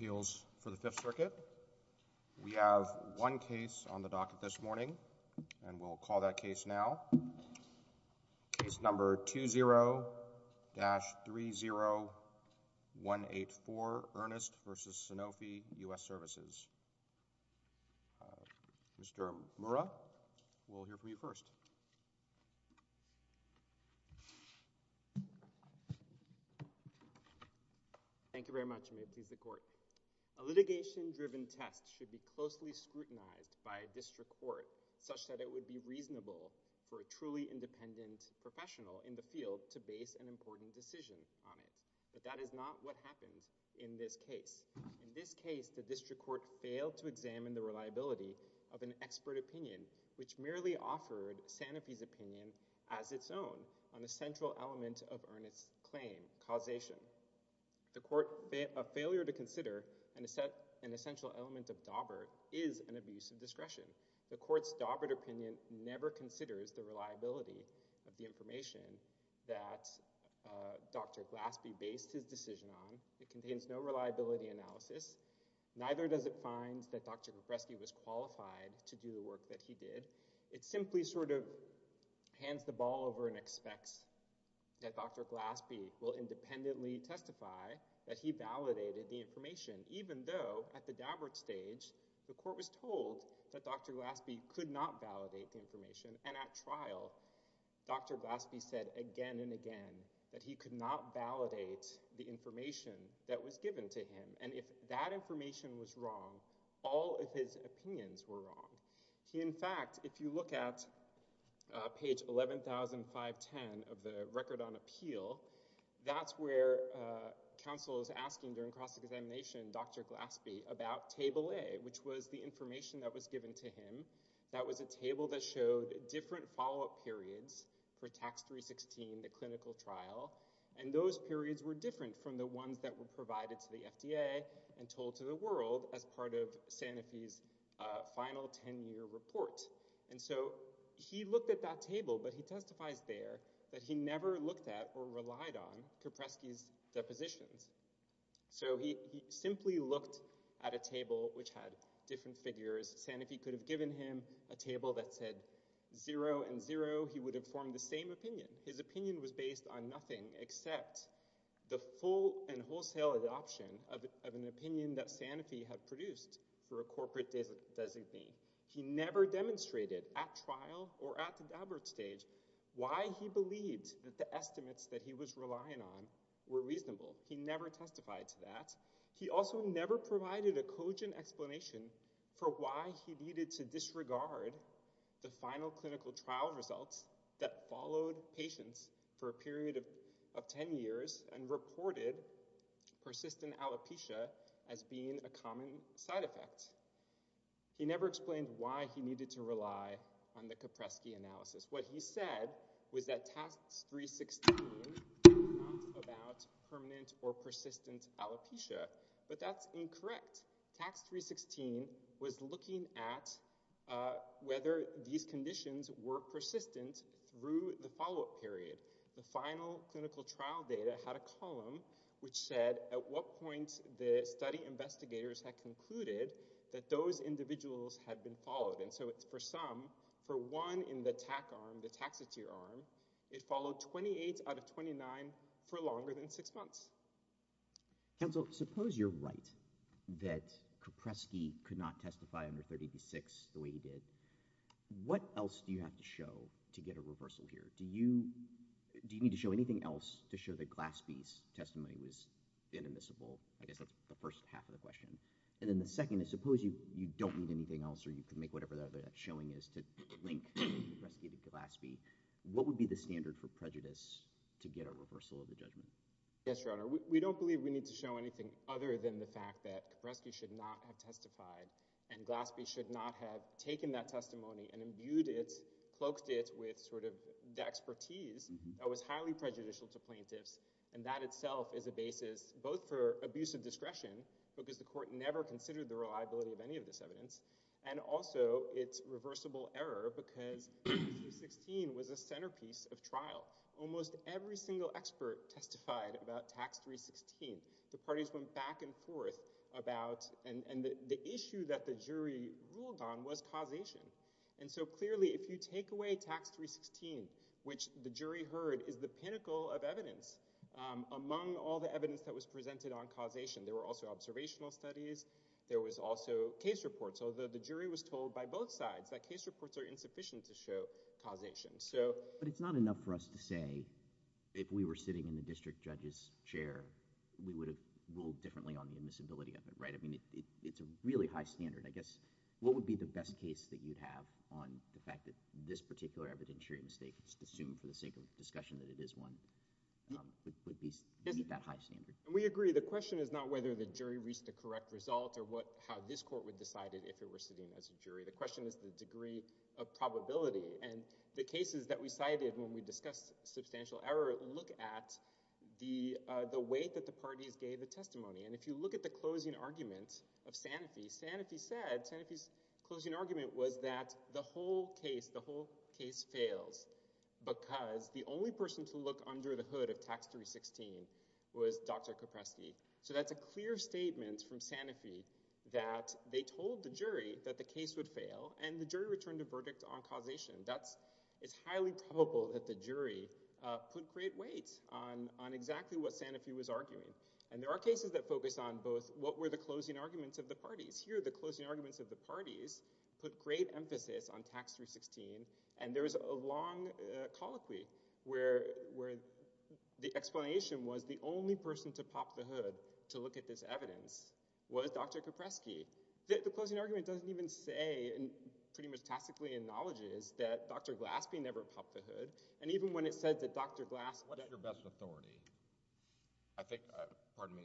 Appeals for the 5th Circuit. We have one case on the docket this morning and we'll call that case now. Case number 20-30184, Ernest v. Sanofi US Services. Mr. Mura, we'll hear from you first. Thank you very much, Mr. Court. A litigation-driven test should be closely scrutinized by a district court such that it would be reasonable for a truly independent professional in the field to base an important decision on it. But that is not what happened in this case. In this case, the district court failed to examine the reliability of an expert opinion, which merely offered Sanofi's opinion as its own on a central element of Ernest's claim, causation. A failure to consider an essential element of Dawbert is an abuse of discretion. The court's Dawbert opinion never considers the reliability of the information that Dr. Glaspie based his decision on. It contains no reliability analysis. Neither does it find that Dr. Glaspie was qualified to do the work that he did. It simply sort of hands the ball over and expects that Dr. Glaspie will independently testify that he validated the information, even though, at the Dawbert stage, the court was told that Dr. Glaspie could not validate the information, and at trial, Dr. Glaspie said again and again that he could not validate the information that Dr. Glaspie provided. If that information was wrong, all of his opinions were wrong. He, in fact, if you look at page 11,510 of the Record on Appeal, that's where counsel is asking, during cross-examination, Dr. Glaspie about Table A, which was the information that was given to him. That was a table that showed different follow-up periods for Tax 316, the clinical trial, and those periods were different from the ones that were provided to the FDA and told to the world as part of Sanofi's final 10-year report. And so, he looked at that table, but he testifies there that he never looked at or relied on Kopreski's depositions. So, he simply looked at a table which had different figures. Sanofi could have given him a table that said zero and zero. He would have formed the same opinion. His opinion was based on nothing except the full and wholesale adoption of an opinion that Sanofi had produced for a corporate designee. He never demonstrated at trial or at the Daubert stage why he believed that the estimates that he was relying on were reasonable. He never testified to that. He also never provided a cogent explanation for why he needed to disregard the final clinical trial results that followed patients for a period of 10 years and reported persistent alopecia as being a common side effect. He never explained why he needed to rely on the Kopreski analysis. What he said was that Tax 316 was about permanent or persistent alopecia, but that's incorrect. Tax 316 was looking at whether these conditions were persistent through the follow-up period. The final clinical trial data had a column which said at what point the study investigators had concluded that those individuals had been followed. And so, it's for some, for one in the TAC arm, the taxateer arm, it followed 28 out of 29 for no longer than six months. Counsel, suppose you're right that Kopreski could not testify under 386 the way he did. What else do you have to show to get a reversal here? Do you need to show anything else to show that Glaspie's testimony was inadmissible? I guess that's the first half of the question. And then the second is, suppose you don't need anything else or you can make whatever that showing is to link and rescue Glaspie. What would be the Yes, Your Honor. We don't believe we need to show anything other than the fact that Kopreski should not have testified and Glaspie should not have taken that testimony and imbued it, cloaked it with sort of the expertise that was highly prejudicial to plaintiffs. And that itself is a basis both for abuse of discretion, because the court never considered the reliability of any of this evidence, and also it's never testified about Tax 316. The parties went back and forth about, and the issue that the jury ruled on was causation. And so clearly if you take away Tax 316, which the jury heard is the pinnacle of evidence among all the evidence that was presented on causation. There were also observational studies, there was also case reports, although the jury was told by both sides that case reports are insufficient to show that if it was a district judge's chair, we would have ruled differently on the visibility of it, right? I mean, it's a really high standard. I guess, what would be the best case that you'd have on the fact that this particular evidence here in the state just assumed for the sake of discussion that it is one, would meet that high standard? We agree. The question is not whether the jury reached a correct result or how this court would decide it if it were sitting as a jury. The question is the degree of probability. And the cases that we cited when we discussed substantial error look at the way that the parties gave the testimony. And if you look at the closing argument of Sanofi, Sanofi said, Sanofi's closing argument was that the whole case, the whole case fails because the only person to look under the hood of Tax 316 was Dr. Kopreski. So that's a clear statement from Sanofi that they told the jury that the case would fail, and the jury returned a verdict on causation. It's highly probable that the jury put great weight on exactly what Sanofi was arguing. And there are cases that focus on both what were the closing arguments of the parties. Here, the closing arguments of the parties put great emphasis on Tax 316, and there was a long colloquy where the explanation was the only person to pop the hood to look at this evidence was Dr. Kopreski. The closing argument doesn't even say, and pretty much tacitly acknowledges, that Dr. Glaspie never popped the hood. And even when it said that Dr. Glaspie— If you had your best authority, I think—pardon me.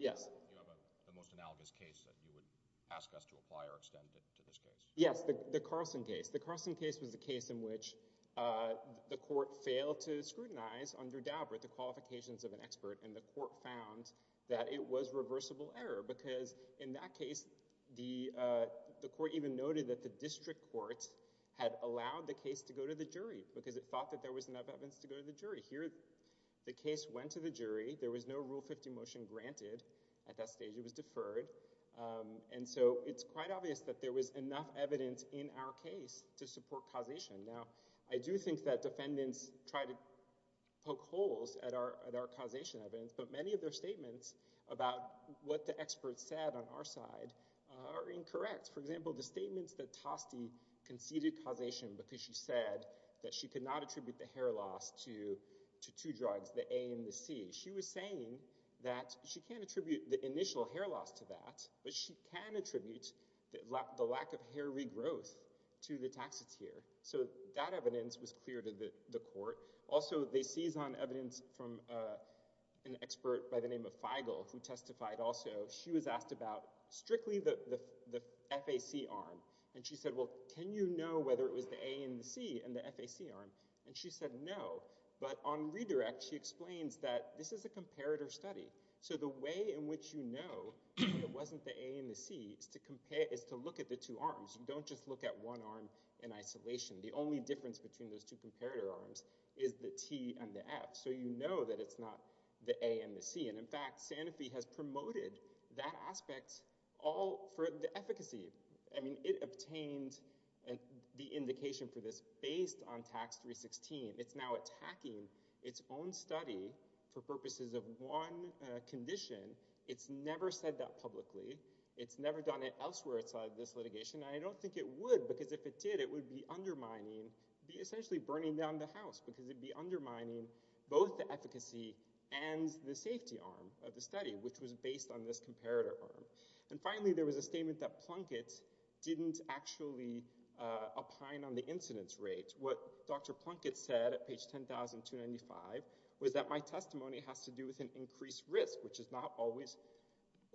Yes. The most analogous case that you would ask us to apply or extend to this case. Yes, the Carlson case. The Carlson case was a case in which the court failed to scrutinize under Daubert the qualifications of an expert, and the court found that it was reversible error because in that case, the court even noted that the district court had allowed the case to go to the jury because it thought that there was enough evidence to go to the jury. Here, the case went to the jury. There was no Rule 50 motion granted at that stage. It was deferred. And so it's quite obvious that there was enough evidence in our case to support causation. Now, I do think that defendants try to poke holes at our causation evidence, but many of their statements about what the expert said on our side are incorrect. For example, the statements that Toste conceded causation because she said that she could not attribute the hair loss to two drugs, the A and the C. She was saying that she can't attribute the initial hair loss to that, but she can attribute the lack of hair regrowth to the taxatier. So that evidence was clear to the court. Also, they seized on evidence from an expert by the name of Feigl, who testified also. She was asked about strictly the FAC arm, and she said, well, can you know whether it was the A and the C in the FAC arm? And she said no, but on redirect, she explains that this is a comparator study. So the way in which you know it wasn't the A and the C is to look at the two arms. Don't just look at one arm in isolation. The only difference between those two comparator arms is the T and the F, so you know that it's not the A and the C. And in fact, Sanofi has promoted that aspect all for the efficacy. I mean, it obtained the indication for this based on Tax 316. It's now attacking its own study for purposes of one condition. It's never said that publicly. It's never done it elsewhere outside of this litigation, and I don't think it would because if it did, it would be undermining, it would be essentially burning down the house because it would be undermining both the efficacy and the safety arm of the study, which was based on this comparator arm. And finally, there was a statement that Plunkett didn't actually opine on the incidence rate. What Dr. Plunkett said at page 10,295 was that my testimony has to do with an increased risk, which is not always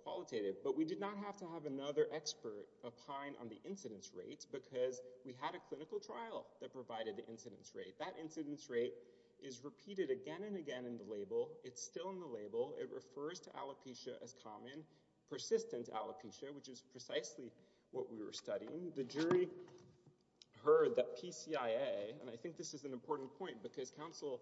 qualitative, but we did not have to have another expert opine on the incidence rates because we had a clinical trial that provided the incidence rate. That incidence rate is repeated again and again in the label. It's still in the label. It refers to alopecia as common, persistent alopecia, which is precisely what we were studying. The jury heard that PCIA, and I think this is an important point because counsel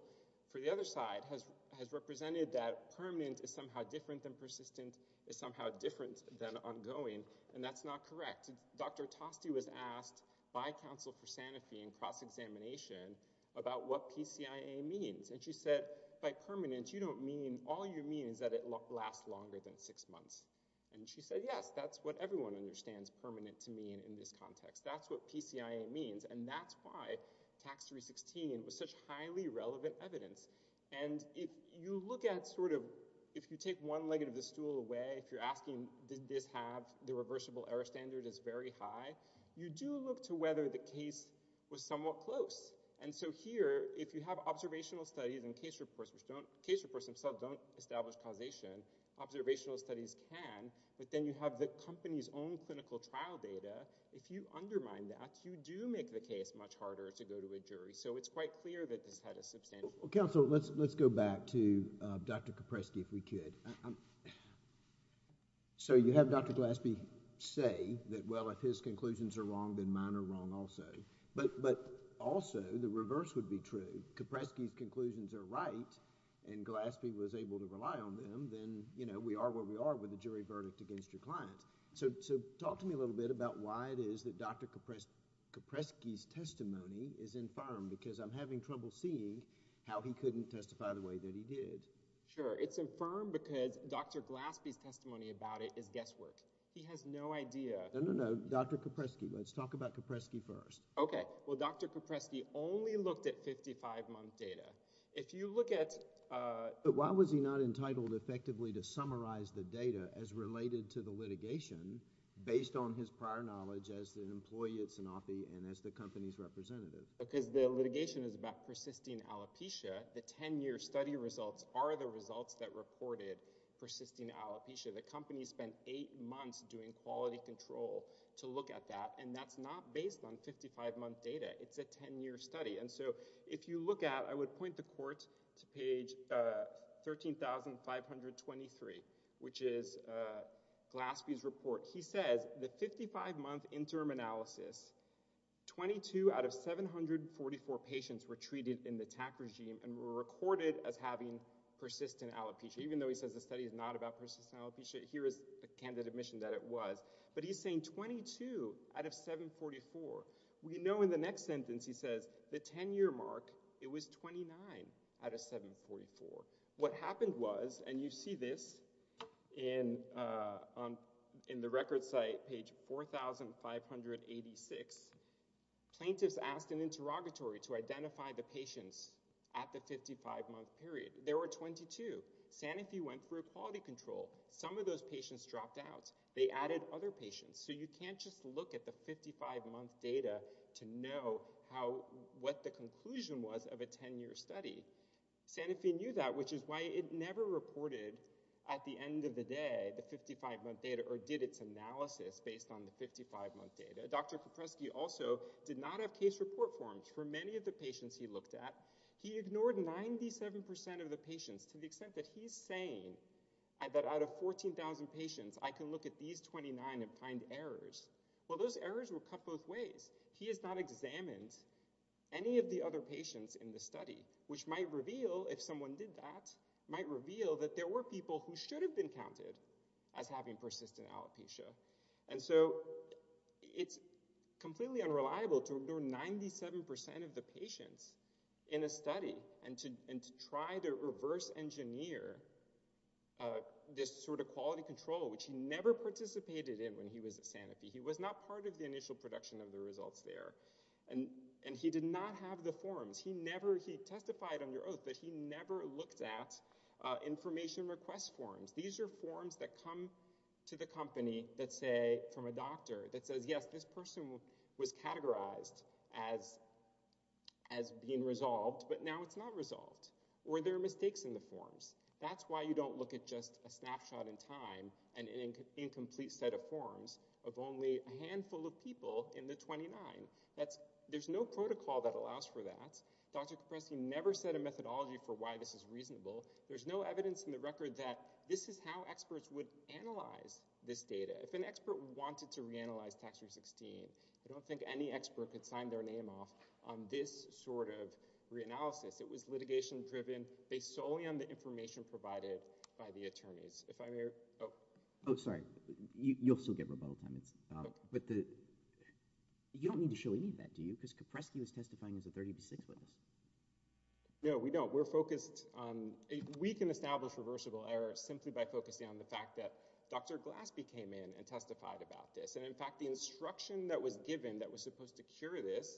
for the other side has represented that permanent is somehow different than persistent, is somehow different than ongoing, and that's not correct. Dr. Toste was asked by counsel for Sanofi in cross-examination about what PCIA means, and she said, by permanent, you don't mean, all you mean is that it lasts longer than six months. And she said, yes, that's what everyone understands permanent to mean in this context. That's what PCIA means, and that's why Tax 316 was such highly relevant evidence. And you look at sort of, if you take one leg of the stool away, if you're asking, did this have, the reversible error standard is very high, you do look to whether the case was somewhat close. And so here, if you have observational studies and case reports which don't, case reports themselves don't establish causation, observational studies can, but then you have the company's own clinical trial data. If you undermine that, you do make the case much harder to go to a jury. So it's quite clear that this had a substantial... Well, counsel, let's go back to Dr. Kopreski if we could. So you have Dr. Gillespie say that, well, if his conclusions are wrong, then mine are wrong also. But also, the reverse would be true. Kopreski's conclusions are right, and Gillespie was able to rely on them, then, you know, we are where we are with the jury verdict against your clients. So talk to me a little bit about why it is that Dr. Kopreski's testimony is infirm, because I'm having trouble seeing how he couldn't testify the way that he did. Sure. It's infirm because Dr. Gillespie's testimony about it is guesswork. He has no idea... No, no, no. Dr. Kopreski. Let's talk about Kopreski first. Okay. Well, Dr. Kopreski only looked at 55-month data. If you look at... But why was he not entitled effectively to summarize the data as related to the litigation based on his prior knowledge as an employee at Sanofi and as the company's representative? Because the litigation is about persisting alopecia. The 10-year study results are the results that reported persisting alopecia. The company spent eight months doing quality control to look at that, and that's not based on 55-month data. It's a 10-year study. And so if you look at... I would point the court to page 13,523, which is Gillespie's report. He says the 55-month interim analysis, 22 out of 744 patients were treated in the TAC regime and were recorded as having persistent alopecia, even though he says the study is not about persistent alopecia. Here is the candidate admission that it was. But he's saying 22 out of 744. We know in the next sentence he says the 10-year mark, it was 29 out of 744. What happened was, and you see this in the record site, page 4586, plaintiffs asked an interrogatory to identify the patients at the 55-month period. There were 22. Sanofi went through quality control. Some of those patients dropped out. They added other patients. So you can't just look at the 55-month data to know what the conclusion was of a 10-year study. Sanofi knew that, which is why it never reported at the end of the day the 55-month data or did its analysis based on the 55-month data. Dr. Popresky also did not have case report forms for many of the patients he looked at. He ignored 97% of the patients to the extent that he's saying that out of 14,000 patients, I can look at these 29 and find errors. Well, those errors were cut both ways. He has not examined any of the other patients in the study, which might reveal, if someone did that, might reveal that there were people who should have been counted as having persistent alopecia. And so it's completely unreliable to ignore 97% of the patients in a study and to try to reverse engineer this sort of quality control, which he never participated in when he was at Sanofi. He was not part of the initial production of the results there, and he did not have the forms. He testified under oath that he never looked at information request forms. These are forms that come to the company from a doctor that says, yes, this person was categorized as being resolved, but now it's not resolved, or there are mistakes in the forms. That's why you don't look at just a snapshot in time and an incomplete set of forms of only a handful of people in the 29. There's no protocol that allows for that. Dr. Popresky never said a methodology for why this is reasonable. There's no evidence in the record that this is how experts would analyze this data. If an expert wanted to reanalyze Tax-Free 16, I don't think any expert could sign their name off on this sort of reanalysis. It was litigation-driven based solely on the information provided by the attorneys. If I may—oh. Oh, sorry. You'll still get rebuttal comments. But you don't need to show any of that, do you? Because Popresky was testifying as a 36-year-old. No, we don't. We're focused on—we can establish reversible errors simply by focusing on the fact that Dr. Glaspie came in and testified about this. And, in fact, the instruction that was given that was supposed to cure this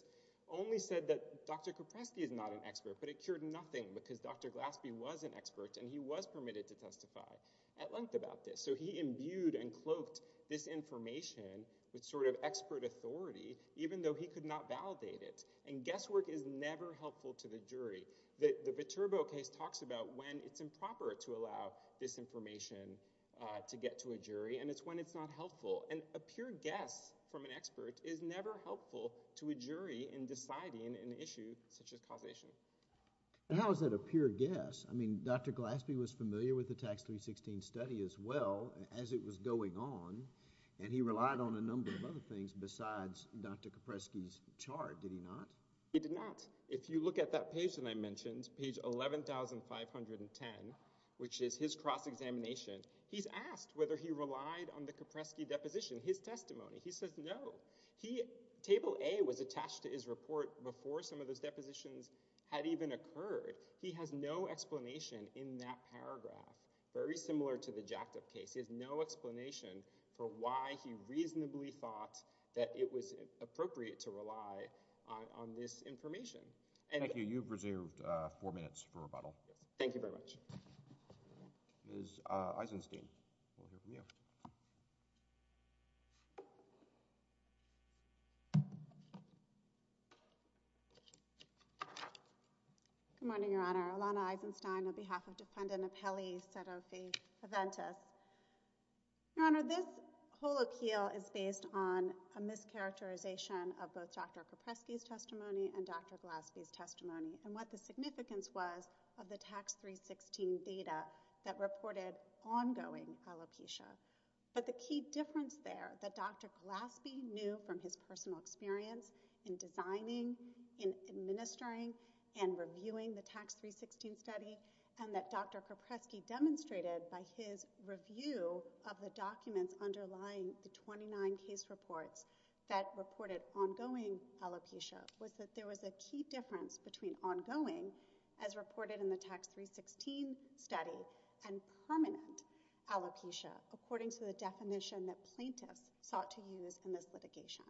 only said that Dr. Popresky is not an expert. But it cured nothing, because Dr. Glaspie was an expert, and he was permitted to testify at length about this. So he imbued and cloaked this information with sort of expert authority, even though he could not validate it. And guesswork is never helpful to the jury. The Viterbo case talks about when it's improper to allow this information to get to a jury, and it's when it's not helpful. And a pure guess from an expert is never helpful to a jury in deciding an issue such as causation. And how is that a pure guess? I mean, Dr. Glaspie was familiar with the Tax 316 study as well as it was going on, and he relied on a number of other things besides Dr. Popresky's chart, did he not? He did not. If you look at that page that I mentioned, page 11,510, which is his cross-examination, he's asked whether he relied on the Kopresky deposition, his testimony. He says no. Table A was attached to his report before some of those depositions had even occurred. He has no explanation in that paragraph. Very similar to the Jacked Up case. He has no explanation for why he reasonably thought that it was appropriate to rely on this information. Thank you. You've reserved four minutes for rebuttal. Thank you very much. Ms. Eisenstein, over to you. Good morning, Your Honor. Alana Eisenstein, on behalf of Defendant Apelli Sedoki-Paventis. Your Honor, this colloquial is based on a mischaracterization of both Dr. Kopresky's testimony and Dr. Glaspie's testimony and what the significance was of the Tax 316 data that reported ongoing alopecia. But the key difference there, that Dr. Glaspie knew from his personal experience in designing, in administering, and reviewing the Tax 316 study, and that Dr. Kopresky demonstrated by his review of the documents underlying the 29 case reports that reported ongoing alopecia, was that there was a key difference between ongoing, as reported in the Tax 316 study, and permanent alopecia, according to the definition that plaintiffs sought to use in this litigation.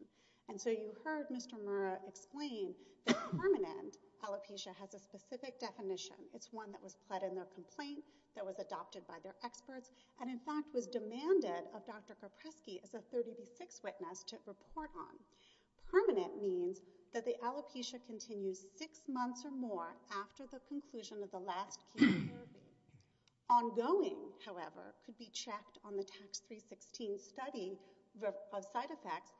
And so you heard Mr. Murrah explain that permanent alopecia has a specific definition. It's one that was fed in their complaint, that was adopted by their experts, and in fact was demanded of Dr. Kopresky as a 30-to-6 witness to report on. Permanent means that the alopecia continues six months or more after the conclusion of the last key survey. Ongoing, however, could be checked on the Tax 316 study of side effects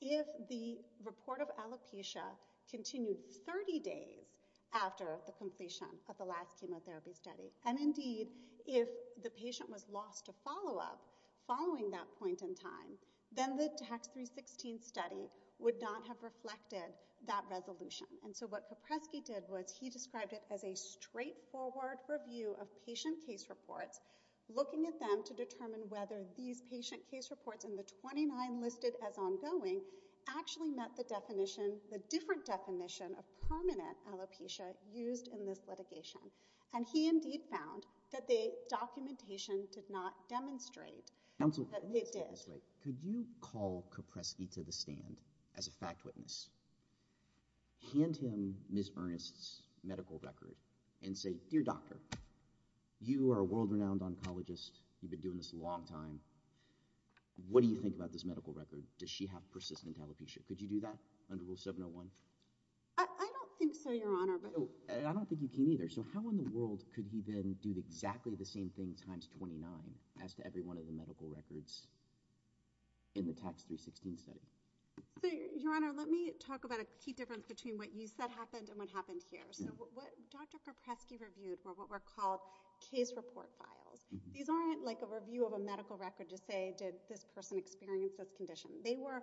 if the report of alopecia continued 30 days after the completion of the last chemotherapy study. And indeed, if the patient was lost to follow-up following that point in time, then the Tax 316 study would not have reflected that resolution. And so what Kopresky did was he described it as a straightforward review of patient case reports, looking at them to determine whether these patient case reports in the 29 listed as ongoing actually met the different definition of permanent alopecia used in this litigation. And he indeed found that the documentation did not demonstrate that it did. Lastly, could you call Kopresky to the stand as a fact witness, hand him Ms. Earnest's medical record, and say, Dear Doctor, you are a world-renowned oncologist. You've been doing this a long time. What do you think about this medical record? Does she have persistent alopecia? Could you do that under Rule 701? I don't think so, Your Honor. I don't think you can either. So how in the world could he then do exactly the same thing times 29 as to every one of the medical records in the Tax 316 study? Your Honor, let me talk about a key difference between what you said happened and what happened here. So what Dr. Kopresky reviewed were what were called case report files. These aren't like a review of a medical record to say, did this person experience this condition? They were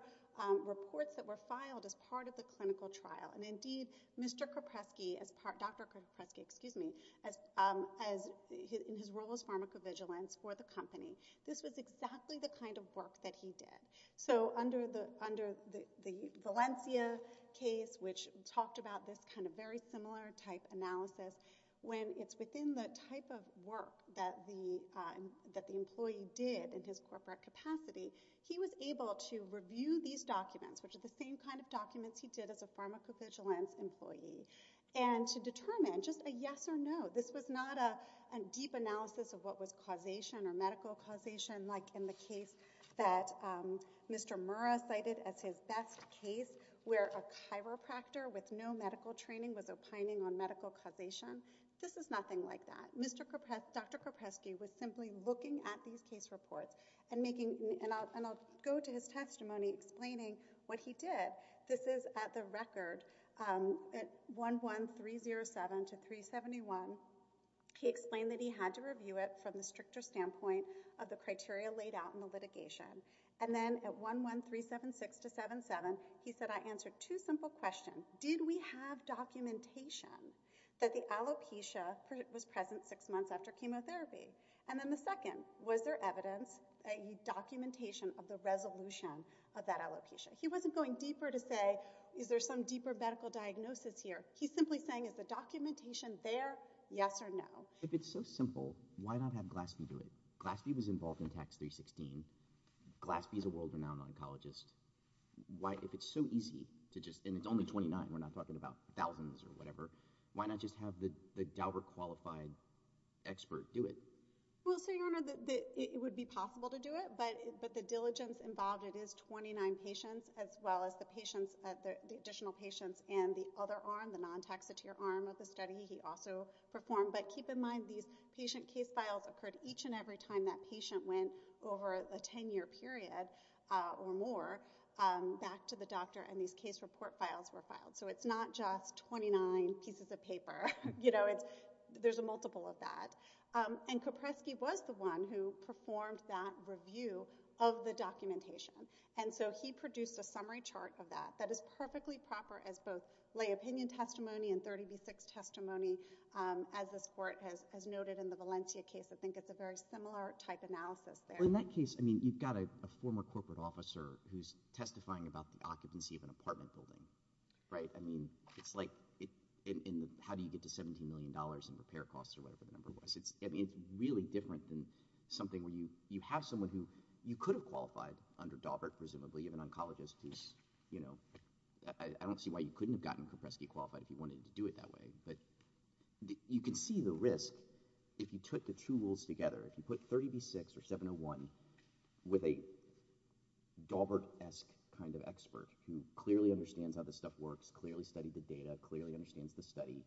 reports that were filed as part of the clinical trial. And indeed, Dr. Kopresky, in his role as pharmacovigilance for the company, this was exactly the kind of work that he did. So under the Valencia case, which talked about this kind of very similar type analysis, when it's within the type of work that the employee did in his corporate capacity, he was able to review these documents, which are the same kind of documents he did as a pharmacovigilance employee, and to determine just a yes or no. This was not a deep analysis of what was causation or medical causation, like in the case that Mr. Murrah cited as his best case, where a chiropractor with no medical training was opining on medical causation. This is nothing like that. Dr. Kopresky was simply looking at these case reports, and I'll go to his testimony explaining what he did. This is at the record at 11307 to 371. He explained that he had to review it from the stricter standpoint of the criteria laid out in the litigation. And then at 11376 to 77, he said, I answered two simple questions. One, did we have documentation that the alopecia was present six months after chemotherapy? And then the second, was there evidence, i.e., documentation of the resolution of that alopecia? He wasn't going deeper to say, is there some deeper medical diagnosis here? He's simply saying, is the documentation there, yes or no? If it's so simple, why not have GLASB do it? GLASB was involved in Tax 316. GLASB is a world-renowned oncologist. If it's so easy to just—and it's only 29, we're not talking about thousands or whatever— why not just have the Daubert-qualified expert do it? Well, so your Honor, it would be possible to do it, but the diligence involved in his 29 patients as well as the additional patients and the other arm, the non-taxateer arm of the study he also performed. But keep in mind, these patient case files occurred each and every time that patient went over a 10-year period or more back to the doctor, and these case report files were filed. So it's not just 29 pieces of paper. There's a multiple of that. Kopreski was the one who performed that review of the documentation, and so he produced a summary chart of that that is perfectly proper as both lay opinion testimony and 30 v. 6 testimony as this Court has noted in the Valencia case. I think it's a very similar type analysis there. Well, in that case, I mean, you've got a former corporate officer who's testifying about the occupancy of an apartment building, right? I mean, it's like—and how do you get to $17 million in repair costs or whatever the number was? I mean, it's really different than something where you have someone who you could have qualified under Daubert, presumably, of an oncologist who's—I don't see why you couldn't have gotten Kopreski qualified if you wanted to do it that way. But you can see the risk if you took the two rules together. If you put 30 v. 6 or 701 with a Daubert-esque kind of expert who clearly understands how this stuff works, clearly studied the data, clearly understands the study,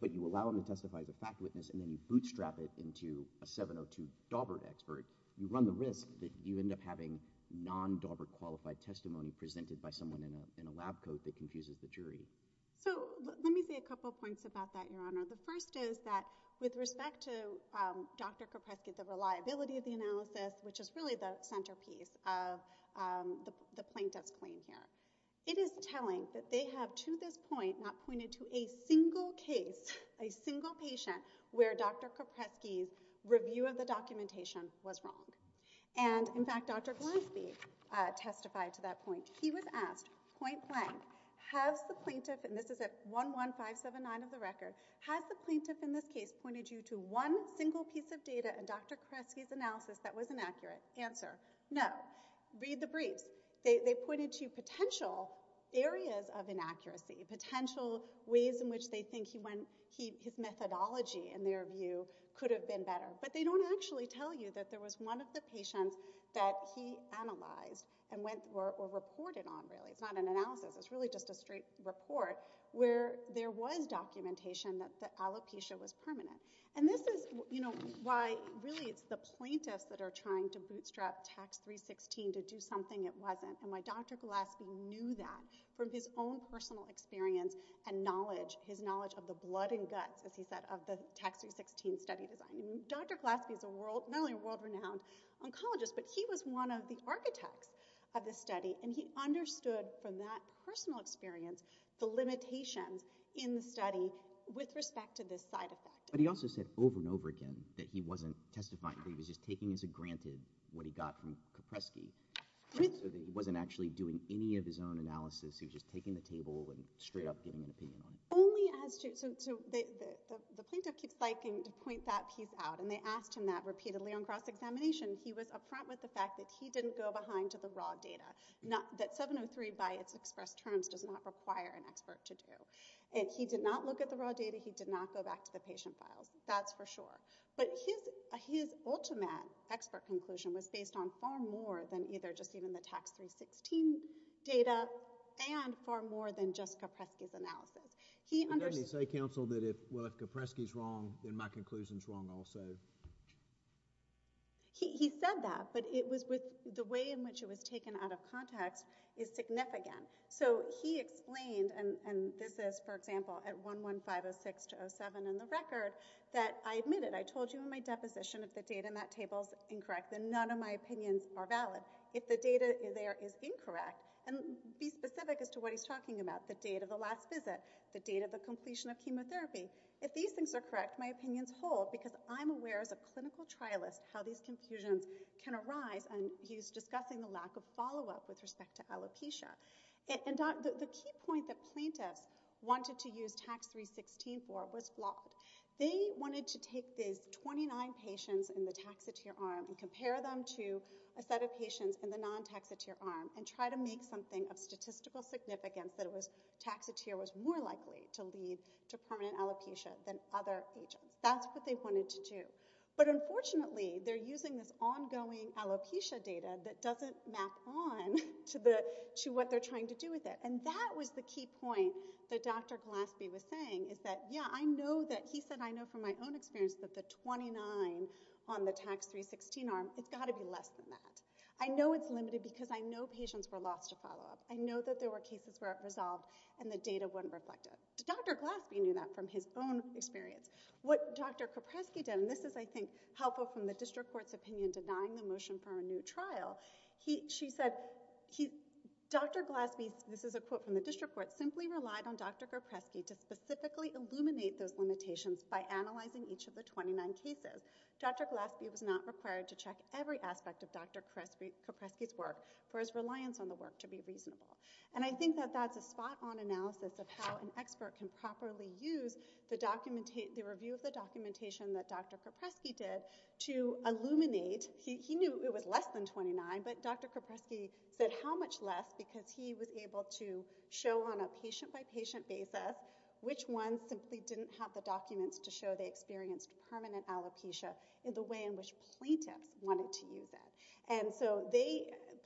but you allow him to testify as a fact witness and then you bootstrap it into a 702 Daubert expert, you run the risk that you end up having non-Daubert-qualified testimony presented by someone in a lab coat that confuses the jury. So let me say a couple points about that, Your Honor. The first is that with respect to Dr. Kopreski, the reliability of the analysis, which is really the centerpiece of the plaintiff's claim here, it is telling that they have, to this point, not pointed to a single case, a single patient, where Dr. Kopreski's review of the documentation was wrong. And, in fact, Dr. Glasby testified to that point. He was asked, point blank, has the plaintiff, and this is at 11579 of the record, has the plaintiff in this case pointed you to one single piece of data in Dr. Kopreski's analysis that was inaccurate? Answer, no. Read the briefs. They pointed to potential areas of inaccuracy, potential ways in which they think his methodology, in their view, could have been better. But they don't actually tell you that there was one of the patients that he analyzed or reported on, really. It's not an analysis. It's really just a straight report where there was documentation that the alopecia was permanent. And this is why, really, it's the plaintiffs that are trying to bootstrap Tax 316 to do something it wasn't, and why Dr. Glasby knew that from his own personal experience and knowledge, his knowledge of the blood and guts, as he said, of the Tax 316 study design. Dr. Glasby is not only a world-renowned oncologist, but he was one of the architects of this study, and he understood from that personal experience the limitations in the study with respect to this side effect. But he also said over and over again that he wasn't testifying, that he was just taking as a granted what he got from Kopreski, so that he wasn't actually doing any of his own analysis. He was just taking the table and straight up giving an opinion on it. The plaintiff keeps liking to point that piece out, and they asked him that repeatedly on cross-examination. He was up front with the fact that he didn't go behind to the raw data, that 703 by its expressed terms does not require an expert to do. If he did not look at the raw data, he did not go back to the patient files. That's for sure. But his ultimate expert conclusion was based on far more than either just even the Tax 316 data and far more than just Kopreski's analysis. But didn't he say, counsel, that if Kopreski's wrong, then my conclusion's wrong also? He said that, but the way in which it was taken out of context is significant. So he explained, and this is, for example, at 11506-07 in the record, that, I admit it, I told you in my deposition if the data in that table is incorrect, then none of my opinions are valid. If the data there is incorrect, and be specific as to what he's talking about, the date of the last visit, the date of the completion of chemotherapy, if these things are correct, my opinions hold, because I'm aware as a clinical trialist how these confusions can arise, and he's discussing the lack of follow-up with respect to alopecia. And the key point that plaintiffs wanted to use Tax 316 for was flawed. They wanted to take these 29 patients in the taxotere arm and compare them to a set of patients in the non-taxotere arm and try to make something of statistical significance that a taxotere was more likely to lead to permanent alopecia than other agents. That's what they wanted to do. But unfortunately, they're using this ongoing alopecia data that doesn't map on to what they're trying to do with it, and that was the key point that Dr. Gillespie was saying, is that, yeah, he said, I know from my own experience that the 29 on the Tax 316 arm, it's got to be less than that. I know it's limited because I know patients were lost to follow-up. I know that there were cases where it was solved and the data wasn't reflected. Dr. Gillespie knew that from his own experience. What Dr. Kopreski did, and this is, I think, helpful from the district court's opinion denying the motion for a new trial, she said, Dr. Gillespie, this is a quote from the district court, simply relied on Dr. Kopreski to specifically illuminate those limitations by analyzing each of the 29 cases. Dr. Gillespie was not required to check every aspect of Dr. Kopreski's work for his reliance on the work to be reasonable. And I think that that's a spot-on analysis of how an expert can properly use the review of the documentation that Dr. Kopreski did to illuminate. He knew it was less than 29, but Dr. Kopreski said how much less because he was able to show on a patient-by-patient basis which ones simply didn't have the documents to show they experienced permanent alopecia in the way in which plaintiffs wanted to use it. And so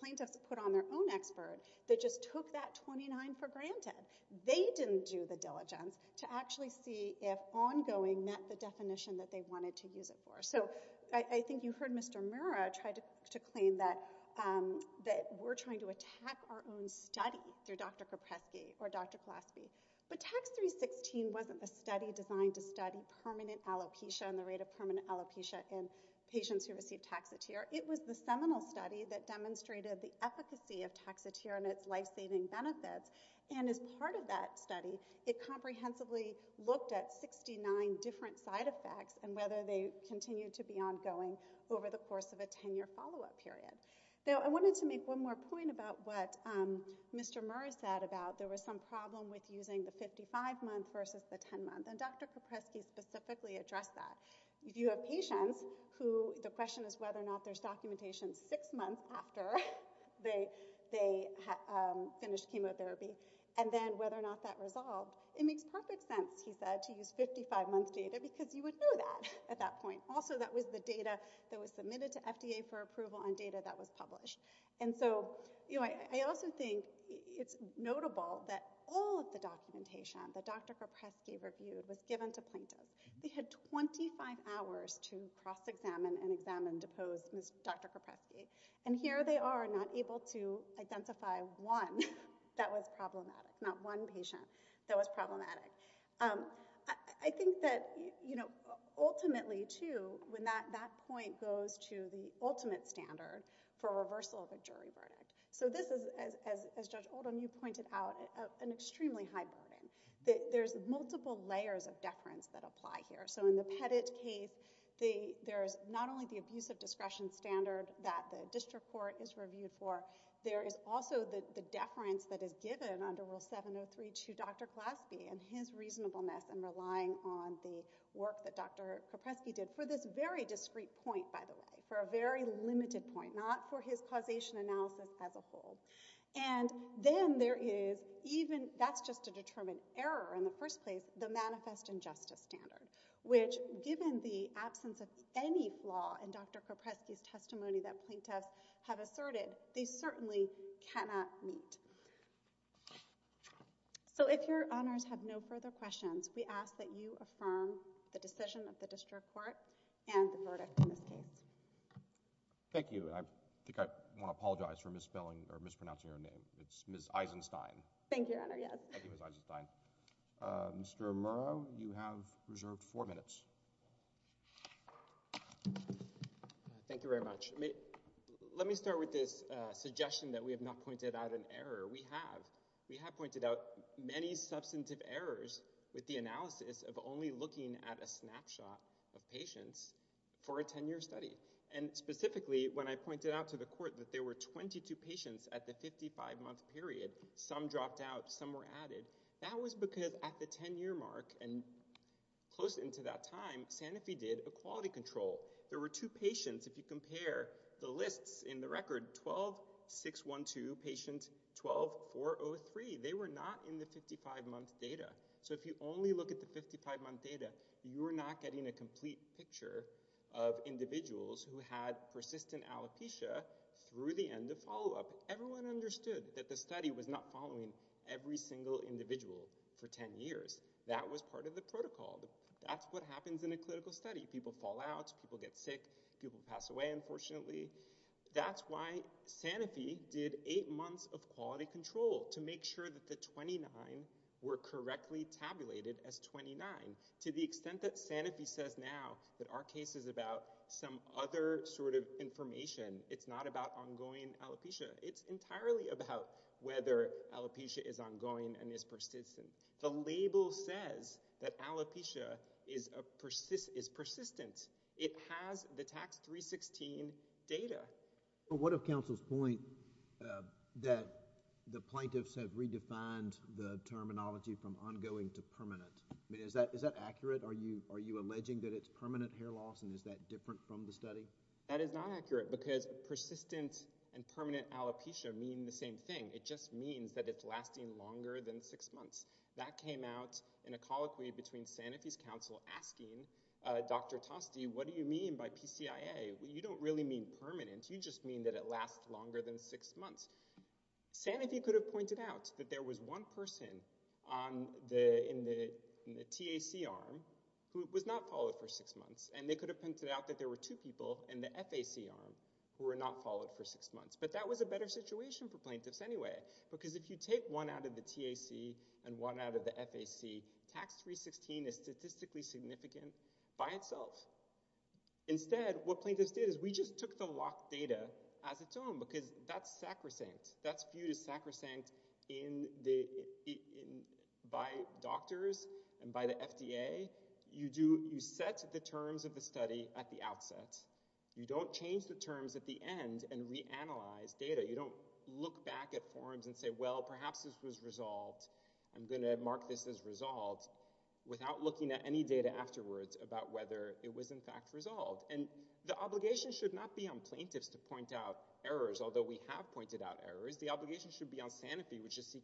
plaintiffs put on their own expert that just took that 29 for granted. They didn't do the diligence to actually see if ongoing met the definition that they wanted to use it for. So I think you heard Mr. Murrah try to claim that we're trying to attack our own study through Dr. Kopreski or Dr. Gillespie. But Tax 316 wasn't a study designed to study permanent alopecia and the rate of permanent alopecia in patients who received Taxotere. It was the seminal study that demonstrated the efficacy of Taxotere and its life-saving benefits. And as part of that study, it comprehensively looked at 69 different side effects and whether they continued to be ongoing over the course of a 10-year follow-up period. Now, I wanted to make one more point about what Mr. Murrah said about there was some problem with using the 55-month versus the 10-month, and Dr. Kopreski specifically addressed that. If you have patients who the question is whether or not there's documentation six months after they finished chemotherapy and then whether or not that resolved, it makes perfect sense, he said, to use 55-month data because you would know that at that point. Also, that was the data that was submitted to FDA for approval on data that was published. And so, you know, I also think it's notable that all of the documentation that Dr. Kopreski reviewed was given to plaintiffs. They had 25 hours to cross-examine and examine, depose Dr. Kopreski. And here they are not able to identify one that was problematic, not one patient that was problematic. I think that, you know, ultimately, too, when that point goes to the ultimate standard for reversal of a jury verdict. So this is, as Judge Oldham, you pointed out, an extremely high burden. There's multiple layers of deference that apply here. So in the Pettit case, there's not only the abuse of discretion standard that the district court is reviewed for, but there is also the deference that is given under Rule 703 to Dr. Glaspie and his reasonableness in relying on the work that Dr. Kopreski did for this very discrete point, by the way, for a very limited point, not for his causation analysis as a whole. And then there is even, that's just to determine error in the first place, the manifest injustice standard, that the district court is reviewing. And then there is the deference that is given under Rule 703 did for this very discrete point, by the way, for a very limited point, Thank you very much. Let me start with this suggestion that we have not pointed out an error. We have. We have pointed out many substantive errors with the analysis of only looking at a snapshot of patients for a 10-year study. And specifically, when I pointed out to the court that there were 22 patients at the 55-month period, some dropped out, some were added, that was because at the 10-year mark and close into that time, Sanofi did a quality control. There were two patients, if you compare the lists in the record, 12-612 patients, 12-403. They were not in the 55-month data. So if you only look at the 55-month data, you are not getting a complete picture of individuals who had persistent alopecia through the end of follow-up. Everyone understood that the study was not following every single individual for 10 years. That was part of the protocol. That's what happens in a clinical study. People fall out, people get sick, people pass away, unfortunately. That's why Sanofi did eight months of quality control to make sure that the 29 were correctly tabulated as 29. To the extent that Sanofi says now that our case is about some other sort of information, it's not about ongoing alopecia. It's entirely about whether alopecia is ongoing and is persistent. The label says that alopecia is persistent. It has the Tax 316 data. But what of counsel's point that the plaintiffs have redefined the terminology from ongoing to permanent? Is that accurate? Are you alleging that it's permanent hair loss, and is that different from the study? That is not accurate, because persistent and permanent alopecia mean the same thing. It just means that it's lasting longer than six months. That came out in a colloquy between Sanofi's counsel asking Dr. Tosti, what do you mean by PCIA? You don't really mean permanent. You just mean that it lasts longer than six months. Sanofi could have pointed out that there was one person in the TAC arm who was not followed for six months, and they could have pointed out that there were two people in the FAC arm who were not followed for six months. But that was a better situation for plaintiffs anyway, because if you take one out of the TAC and one out of the FAC, Tax 316 is statistically significant by itself. Instead, what plaintiffs did is we just took the locked data as its own, because that's sacrosanct. That's viewed as sacrosanct by doctors and by the FDA. You set the terms of the study at the outset. You don't change the terms at the end and reanalyze data. You don't look back at forms and say, well, perhaps this was resolved. I'm going to mark this as resolved, without looking at any data afterwards about whether it was in fact resolved. And the obligation should not be on plaintiffs to point out errors, although we have pointed out errors. The obligation should be on Sanofi, which is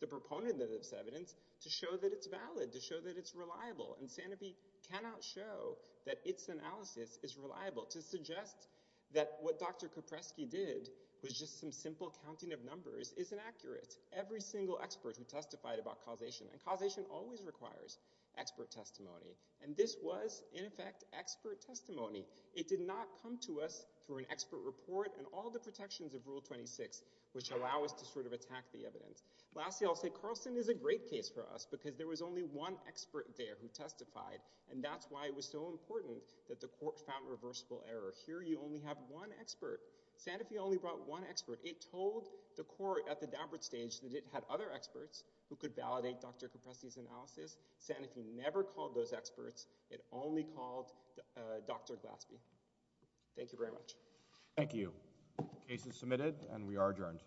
the proponent of this evidence, to show that it's valid, to show that it's reliable. And Sanofi cannot show that its analysis is reliable to suggest that what Dr. Kopreski did was just some simple counting of numbers is inaccurate. Every single expert who testified about causation, and causation always requires expert testimony, and this was, in effect, expert testimony. It did not come to us through an expert report and all the protections of Rule 26, which allow us to sort of attack the evidence. Lastly, I'll say Carlson is a great case for us, because there was only one expert there who testified, and that's why it was so important that the court found reversible error. Here you only have one expert. Sanofi only brought one expert. It told the court at the downward stage that it had other experts who could validate Dr. Kopreski's analysis. Sanofi never called those experts. It only called Dr. Glaspie. Thank you very much. Thank you. Case is submitted, and we are adjourned.